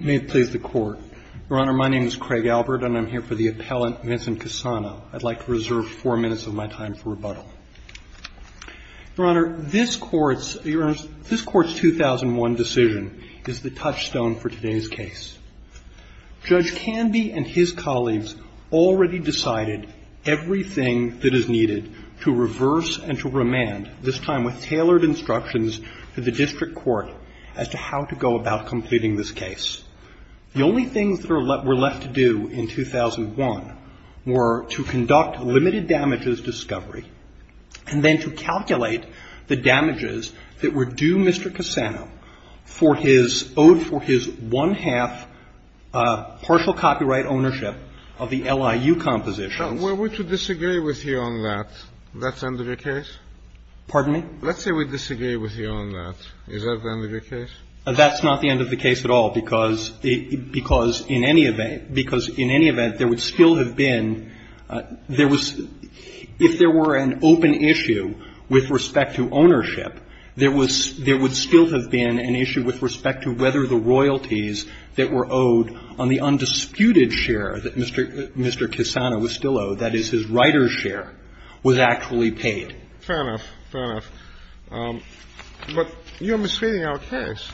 May it please the Court, Your Honor, my name is Craig Albert and I'm here for the appellant Vincent Cusano. I'd like to reserve four minutes of my time for rebuttal. Your Honor, this Court's 2001 decision is the touchstone for today's case. Judge Canby and his colleagues already decided everything that is needed to reverse and to remand, this time with tailored instructions to the district court as to how to go about completing this case. The only things that were left to do in 2001 were to conduct limited damages discovery and then to calculate the damages that were due Mr. Cusano for his one-half partial copyright ownership of the LIU compositions. Now, were we to disagree with you on that, that's the end of your case? Pardon me? Let's say we disagree with you on that. Is that the end of your case? That's not the end of the case at all, because in any event, because in any event, there would still have been – there was – if there were an open issue with respect to ownership, there would still have been an issue with respect to whether the royalties that were owed on the undisputed share that Mr. Cusano was still owed, that is, his writer's share, was actually paid. Fair enough. Fair enough. But you're misreading our case.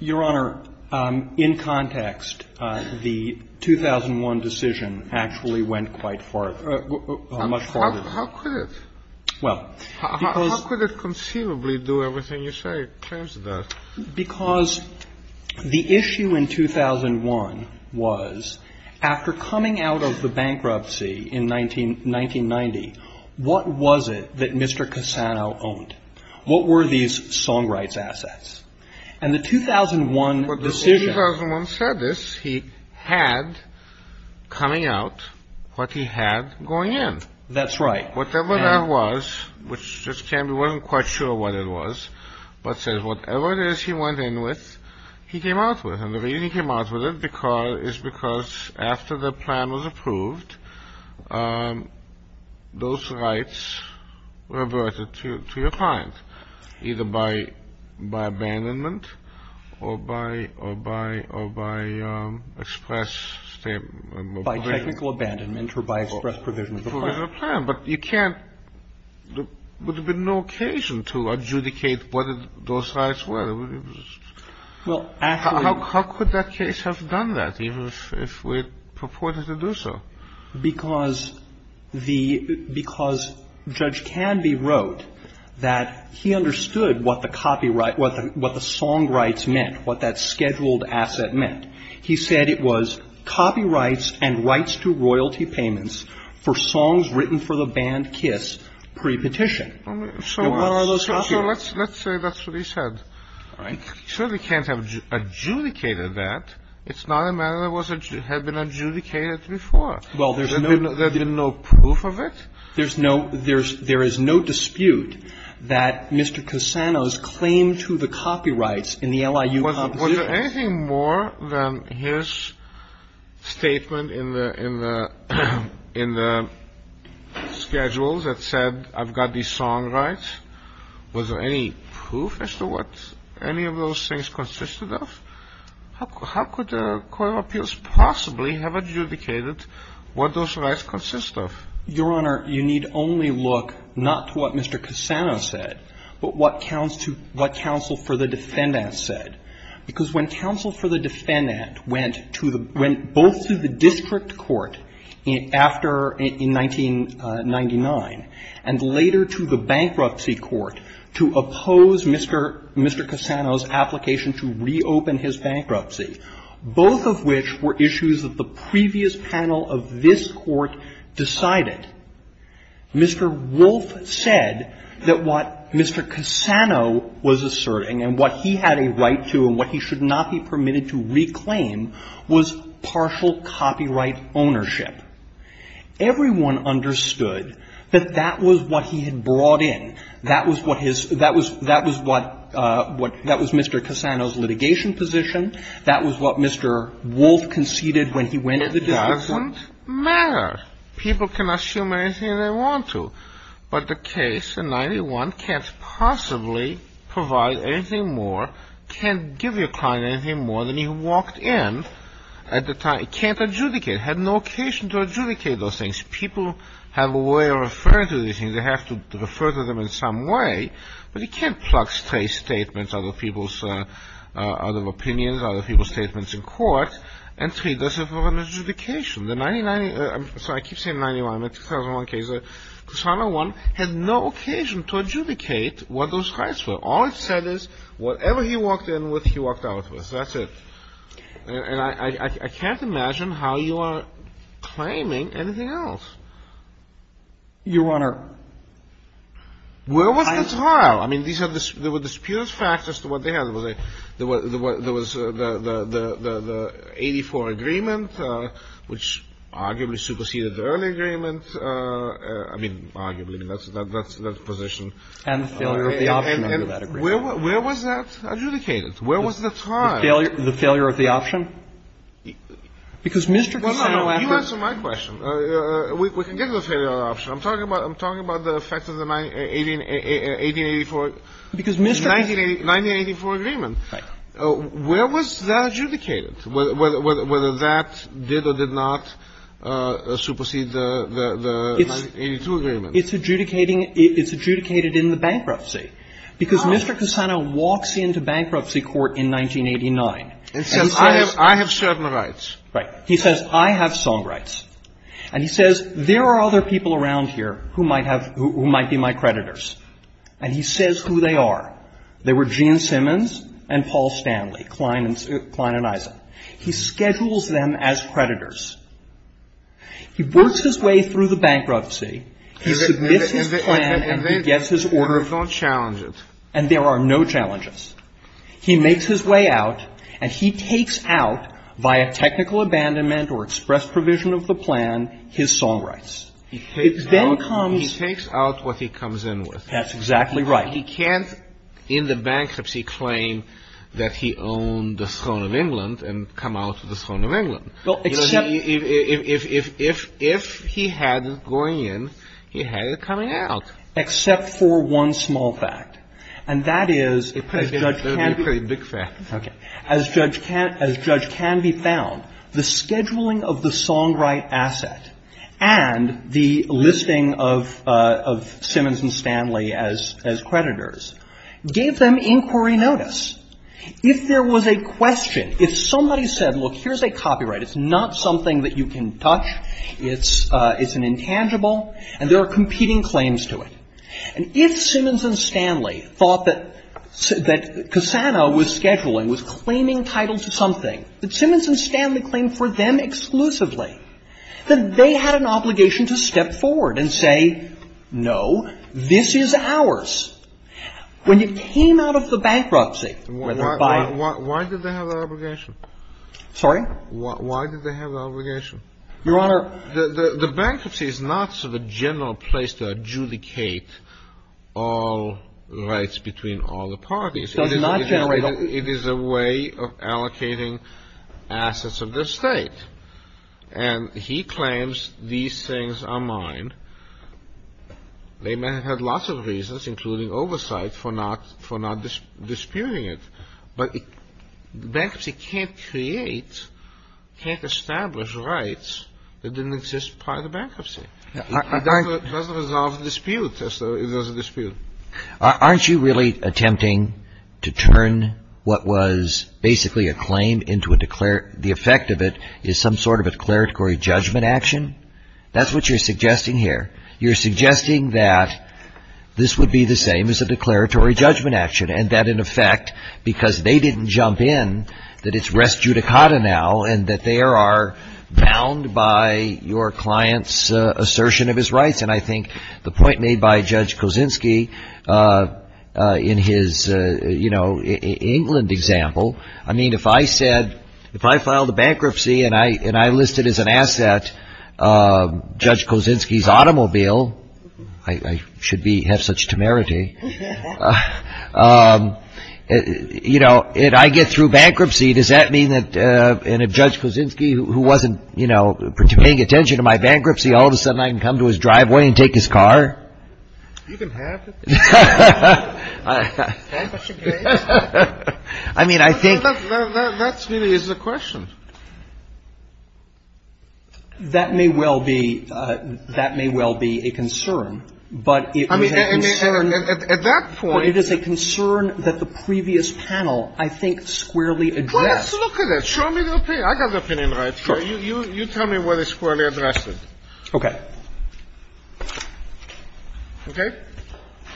Your Honor, in context, the 2001 decision actually went quite far. How could it? Well, because – How could it conceivably do everything you say? It claims that. Because the issue in 2001 was, after coming out of the bankruptcy in 1990, what was it that Mr. Cusano owned? What were these song rights assets? And the 2001 decision – That's right. Whatever that was, which just can't be – wasn't quite sure what it was, but says whatever it is he went in with, he came out with. And the reason he came out with it is because, after the plan was approved, those rights were averted to your client, either by abandonment or by express – By technical abandonment or by express provision of the plan. Provision of the plan. But you can't – there would have been no occasion to adjudicate whether those rights were – Well, actually – How could that case have done that, even if we had purported to do so? Because the – because Judge Canby wrote that he understood what the song rights meant, what that scheduled asset meant. He said it was copyrights and rights to royalty payments for songs written for the band Kiss pre-petition. So what are those copyrights? So let's say that's what he said. All right. He certainly can't have adjudicated that. It's not a matter that had been adjudicated before. Well, there's no – There's been no proof of it? There's no – there is no dispute that Mr. Cusano's claim to the copyrights in the LIU – Was there anything more than his statement in the schedule that said, I've got these song rights? Was there any proof as to what any of those things consisted of? How could the Court of Appeals possibly have adjudicated what those rights consist of? Your Honor, you need only look not to what Mr. Cusano said, but what counsel for the defendant said. Because when counsel for the defendant went to the – went both to the district court after – in 1999, and later to the bankruptcy court to oppose Mr. Cusano's application to reopen his bankruptcy, both of which were issues that the previous panel of this Court decided, Mr. Wolf said that what Mr. Cusano was asserting and what he had a right to and what he should not be permitted to reclaim was partial copyright ownership. Everyone understood that that was what he had brought in. That was what his – that was what – that was Mr. Cusano's litigation position. That was what Mr. Wolf conceded when he went to the district court. It doesn't matter. People can assume anything they want to, but the case in 1991 can't possibly provide anything more, can't give your client anything more than he walked in at the time. It can't adjudicate. It had no occasion to adjudicate those things. People have a way of referring to these things. They have to refer to them in some way. But you can't pluck state statements out of people's – out of opinions, out of people's statements in court and treat this as an adjudication. The 1990 – I'm sorry, I keep saying 1991. The 2001 case, Cusano won, had no occasion to adjudicate what those rights were. All it said is whatever he walked in with, he walked out with. That's it. And I can't imagine how you are claiming anything else. Your Honor, I – Where was the trial? I mean, these are – there were disputed facts as to what they had. There was a – there was the 84 agreement, which arguably superseded the early agreement. I mean, arguably. That's the position. And the failure of the option under that agreement. And where was that adjudicated? Where was the trial? The failure of the option? Because Mr. Cusano – Well, no, no. You answer my question. We can get to the failure of the option. I'm talking about – I'm talking about the effects of the 1984 – Because Mr. Cusano – 1984 agreement. Right. Where was that adjudicated? Whether that did or did not supersede the – the 82 agreement. It's adjudicating – it's adjudicated in the bankruptcy. Because Mr. Cusano walks into bankruptcy court in 1989 and says – And says, I have – I have certain rights. Right. He says, I have song rights. And he says, there are other people around here who might have – who might be my creditors. And he says who they are. They were Gene Simmons and Paul Stanley. Klein and – Klein and Eisen. He schedules them as creditors. He works his way through the bankruptcy. He submits his plan and he gets his order of – And then – and then – and then he's on challenges. And there are no challenges. He makes his way out. And he takes out, via technical abandonment or express provision of the plan, his song rights. He takes out – It then comes – He takes out what he comes in with. That's exactly right. He can't, in the bankruptcy, claim that he owned the throne of England and come out with the throne of England. Well, except – If – if – if he had going in, he had it coming out. Except for one small fact. And that is – That would be a pretty big fact. Okay. As judge can – as judge can be found, the scheduling of the song right asset and the listing of – of Simmons and Stanley as – as creditors gave them inquiry notice. If there was a question, if somebody said, look, here's a copyright. It's not something that you can touch. It's – it's an intangible. And there are competing claims to it. And if Simmons and Stanley thought that – that Cassano was scheduling, was claiming titles to something, that Simmons and Stanley claimed for them exclusively, that they had an obligation to step forward and say, no, this is ours. When you came out of the bankruptcy, whether by – Why – why did they have that obligation? Sorry? Why did they have that obligation? Your Honor, the – the bankruptcy is not sort of a general place to adjudicate all rights between all the parties. It is a way of allocating assets of the state. And he claims these things are mine. They may have had lots of reasons, including oversight, for not – for not disputing it. But the bankruptcy can't create – can't establish rights that didn't exist prior to bankruptcy. It doesn't resolve the dispute, as though it was a dispute. Aren't you really attempting to turn what was basically a claim into a – the effect of it is some sort of a declaratory judgment action? That's what you're suggesting here. You're suggesting that this would be the same as a declaratory judgment action, and that, in effect, because they didn't jump in, that it's res judicata now, and that they are bound by your client's assertion of his rights. And I think the point made by Judge Kosinski in his, you know, England example, I mean, if I said – if I filed a bankruptcy and I listed as an asset Judge Kosinski's automobile – I should be – have such temerity – you know, if I get through bankruptcy, does that mean that – and if Judge Kosinski, who wasn't, you know, paying attention to my bankruptcy, all of a sudden I can come to his driveway and take his car? You can have it. I mean, I think – But that's really is the question. That may well be – that may well be a concern. But it is a concern. I mean, at that point – But it is a concern that the previous panel, I think, squarely addressed. Well, let's look at it. Show me the opinion. I got the opinion right here. You tell me what is squarely addressed. Okay. Okay?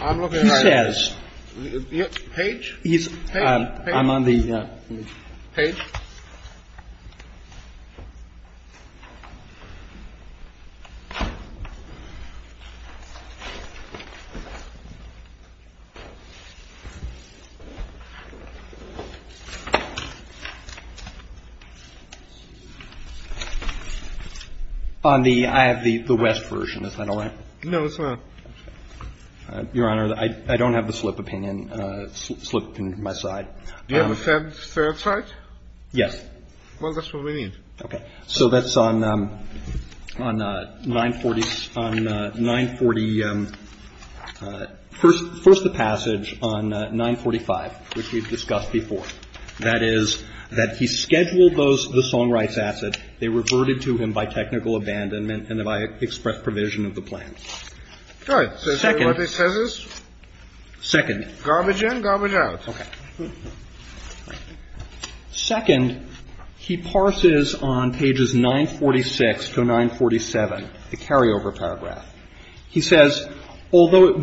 I'm looking right at it. He says – Page? Page. I'm on the – Page. Page. On the – I have the west version. Is that all right? No, it's not. Your Honor, I don't have the slip opinion. Do you have a third side? Yes. Well, that's what we need. Okay. So that's on 940 – on 940 – first the passage on 945, which we've discussed before. That is that he scheduled the Songwrights asset. They reverted to him by technical abandonment and by express provision of the plan. All right. So what it says is? Second. Garbage in, garbage out. Okay. Second, he parses on pages 946 to 947 the carryover paragraph. He says, So what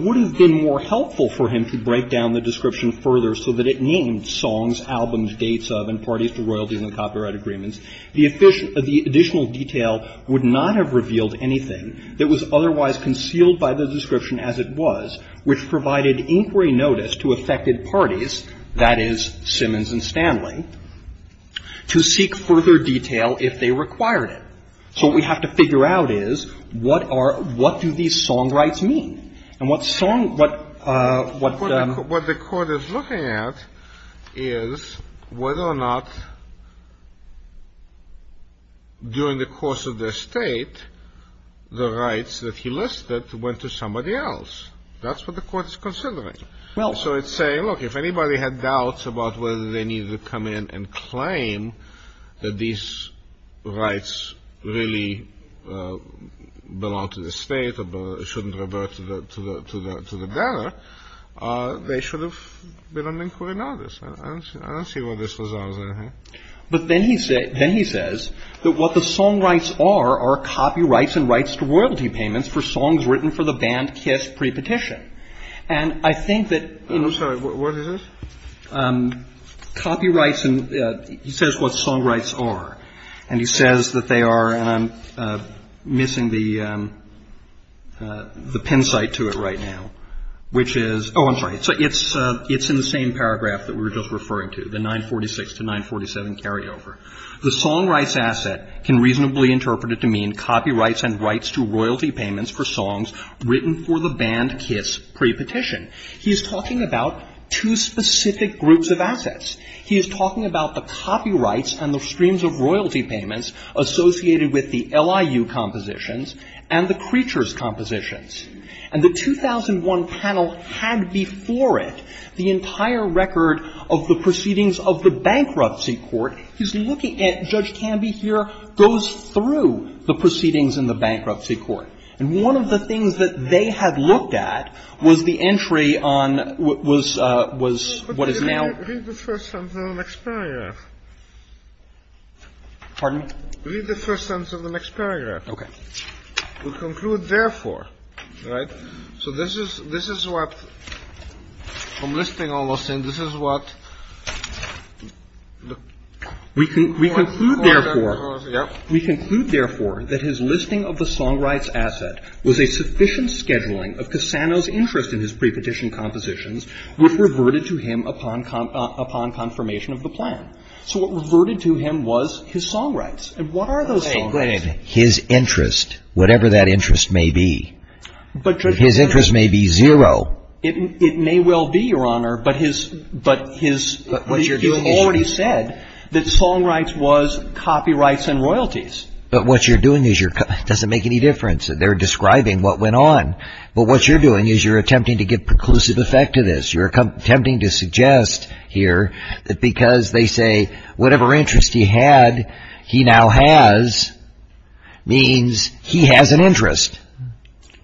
we have to figure out is what are – what do these Songrights mean? And what Song – what – what – What the court is looking at is whether or not during the course of their state the rights that he listed went to somebody else. That's what the court is considering. Well – So it's saying, look, if anybody had doubts about whether they needed to come in and claim that these rights really belong to the state or shouldn't revert to the – to the – to the debtor, they should have been on inquiry notice. I don't – I don't see where this was – But then he – then he says that what the Songrights are are copyrights and rights to royalty payments for songs written for the band Kiss pre-petition. Right. And I think that – I'm sorry. What is this? Copyrights and – he says what Songrights are. And he says that they are – and I'm missing the – the pin site to it right now, which is – oh, I'm sorry. It's in the same paragraph that we were just referring to, the 946 to 947 carryover. The Songrights asset can reasonably interpret it to mean copyrights and rights to royalty payments for songs written for the band Kiss pre-petition. He is talking about two specific groups of assets. He is talking about the copyrights and the streams of royalty payments associated with the LIU compositions and the Creatures compositions. And the 2001 panel had before it the entire record of the proceedings of the Bankruptcy Court. He's looking at – Judge Canby here goes through the proceedings in the Bankruptcy Court. And one of the things that they had looked at was the entry on – was – was what is now – Read the first sentence of the next paragraph. Pardon? Read the first sentence of the next paragraph. Okay. We conclude, therefore – right? So this is – this is what – I'm listing almost, and this is what – We conclude, therefore – Yep. We conclude, therefore, that his listing of the Songrights asset was a sufficient scheduling of Cassano's interest in his pre-petition compositions which reverted to him upon confirmation of the plan. So what reverted to him was his Songrights. And what are those Songrights? His interest, whatever that interest may be. But – His interest may be zero. It may well be, Your Honor, but his – but his – But what you're doing is – You already said that Songrights was copyrights and royalties. But what you're doing is you're – it doesn't make any difference. They're describing what went on. But what you're doing is you're attempting to get preclusive effect to this. You're attempting to suggest here that because they say whatever interest he had, he now has, means he has an interest.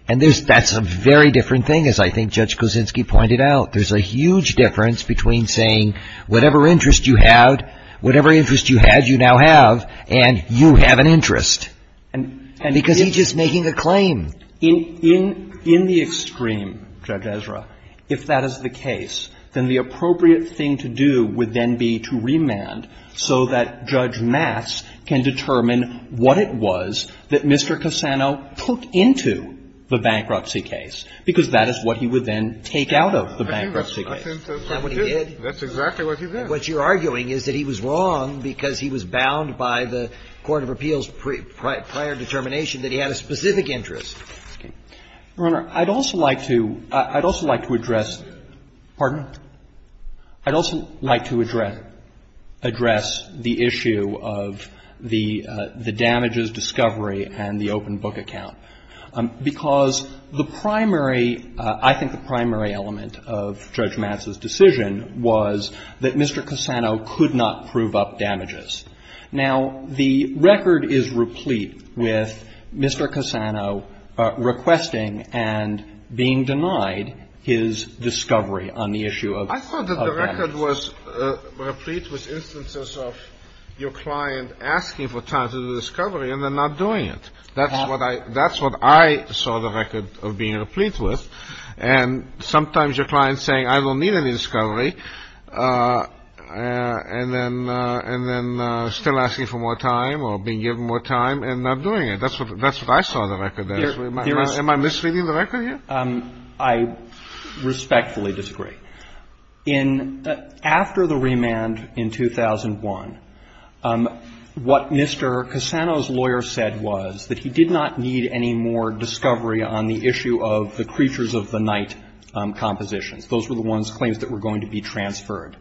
And there's – that's a very different thing, as I think Judge Kosinski pointed out. There's a huge difference between saying whatever interest you had, whatever interest you had, you now have, and you have an interest. And because he's just making a claim. In the extreme, Judge Ezra, if that is the case, then the appropriate thing to do would then be to remand so that Judge Mass can determine what it was that Mr. Cassano took into the bankruptcy case, because that is what he would then take out of the bankruptcy case. That's what he did. That's exactly what he did. What you're arguing is that he was wrong because he was bound by the court of appeals' prior determination that he had a specific interest. Okay. Your Honor, I'd also like to – I'd also like to address – pardon? I'd also like to address the issue of the damages discovery and the open book account. Because the primary – I think the primary element of Judge Mass' decision was that Mr. Cassano could not prove up damages. Now, the record is replete with Mr. Cassano requesting and being denied his discovery on the issue of – I thought that the record was replete with instances of your client asking for time to do the discovery and then not doing it. That's what I – that's what I saw the record of being replete with. And sometimes your client saying, I don't need any discovery, and then – and then still asking for more time or being given more time and not doing it. That's what – that's what I saw the record as. Am I misleading the record here? I respectfully disagree. In – after the remand in 2001, what Mr. Cassano's lawyer said was that he did not need any more discovery on the issue of the Creatures of the Night compositions. Those were the ones – claims that were going to be transferred.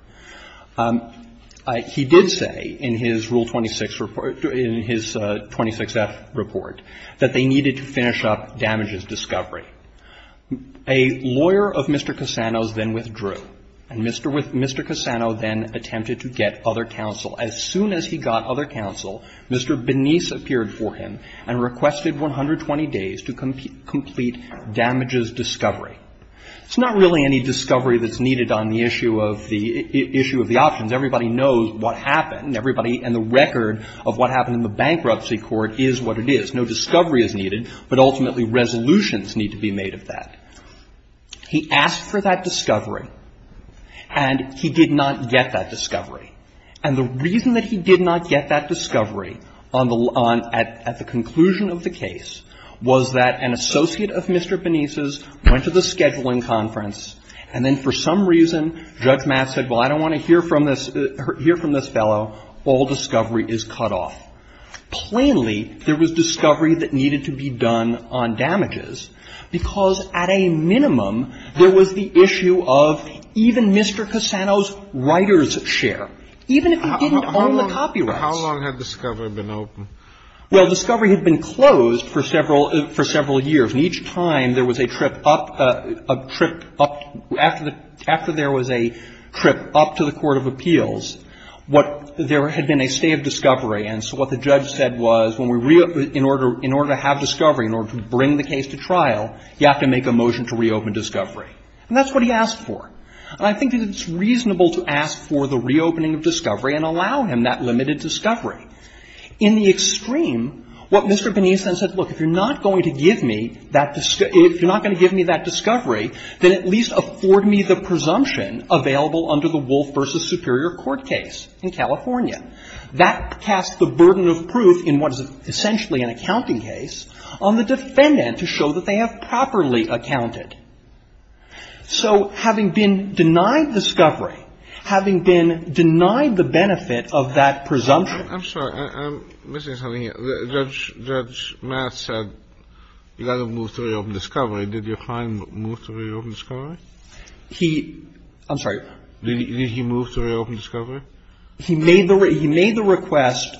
He did say in his Rule 26 – in his 26F report that they needed to finish up damages discovery. A lawyer of Mr. Cassano's then withdrew. And Mr. – Mr. Cassano then attempted to get other counsel. As soon as he got other counsel, Mr. Benice appeared for him and requested 120 days to complete damages discovery. It's not really any discovery that's needed on the issue of the – issue of the options. Everybody knows what happened. Everybody – and the record of what happened in the bankruptcy court is what it is. No discovery is needed. But ultimately, resolutions need to be made of that. He asked for that discovery. And he did not get that discovery. And the reason that he did not get that discovery on the – at the conclusion of the case was that an associate of Mr. Benice's went to the scheduling conference, and then for some reason, Judge Mass said, well, I don't want to hear from this – hear from this fellow. All discovery is cut off. Plainly, there was discovery that needed to be done on damages, because at a minimum, there was the issue of even Mr. Cassano's writer's share, even if he didn't own the copyrights. How long had discovery been open? Well, discovery had been closed for several – for several years. And each time there was a trip up – a trip up – after the – after there was a trip up to the court of appeals, what – there had been a stay of discovery. And so what the judge said was, when we – in order – in order to have discovery, in order to bring the case to trial, you have to make a motion to reopen discovery. And that's what he asked for. And I think that it's reasonable to ask for the reopening of discovery and allow him that limited discovery. In the extreme, what Mr. Benice then said, look, if you're not going to give me that – if you're not going to give me that discovery, then at least afford me the presumption available under the Wolf v. Superior Court case in California. That casts the burden of proof in what is essentially an accounting case on the defendant to show that they have properly accounted. So having been denied discovery, having been denied the benefit of that presumption – I'm sorry. I'm missing something here. Judge – Judge Matt said you got to move to reopen discovery. Did your client move to reopen discovery? He – I'm sorry. Did he move to reopen discovery? He made the – he made the request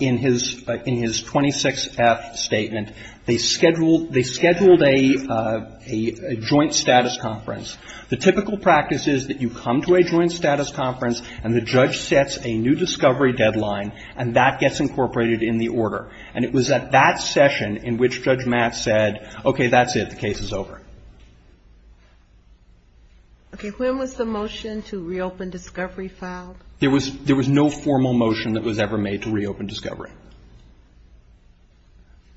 in his – in his 26-F statement. They scheduled – they scheduled a joint status conference. The typical practice is that you come to a joint status conference and the judge sets a new discovery deadline, and that gets incorporated in the order. And it was at that session in which Judge Matt said, okay, that's it. The case is over. Okay. When was the motion to reopen discovery filed? There was – there was no formal motion that was ever made to reopen discovery.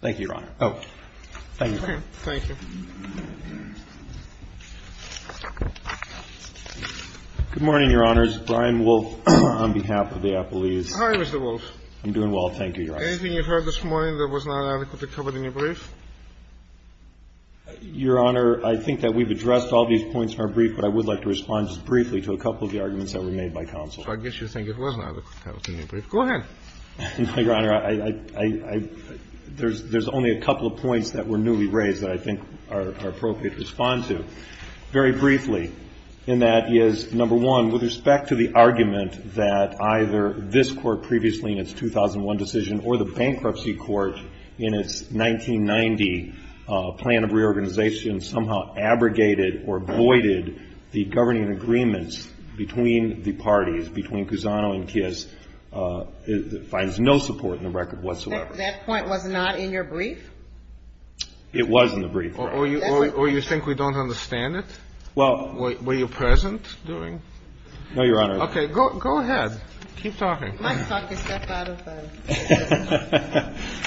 Thank you, Your Honor. Oh. Thank you. Okay. Thank you. Good morning, Your Honors. Brian Wolfe on behalf of the appellees. Hi, Mr. Wolfe. I'm doing well. Thank you, Your Honor. Anything you've heard this morning that was not adequately covered in your brief? Your Honor, I think that we've addressed all these points in our brief, but I would like to respond just briefly to a couple of the arguments that were made by counsel. So I guess you think it was not adequately covered in your brief. Go ahead. Your Honor, I – I – I – there's – there's only a couple of points that were newly raised that I think are appropriate to respond to. Very briefly, and that is, number one, with respect to the argument that either this Court previously in its 2001 decision or the bankruptcy court in its 1990 plan of reorganization somehow abrogated or voided the governing agreements between the parties, between Cusano and Kiss, that finds no support in the record whatsoever. That point was not in your brief? It was in the brief, Your Honor. Or you – or you think we don't understand it? Well – Were you present during? No, Your Honor. Okay. Well, go – go ahead. Keep talking. My talk has got a lot of time.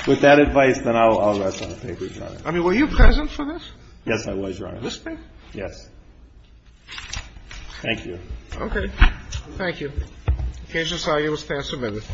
With that advice, then I'll – I'll rest on my papers, Your Honor. I mean, were you present for this? Yes, I was, Your Honor. This brief? Yes. Thank you. Okay. Thank you. The occasion, sorry, it was past a minute.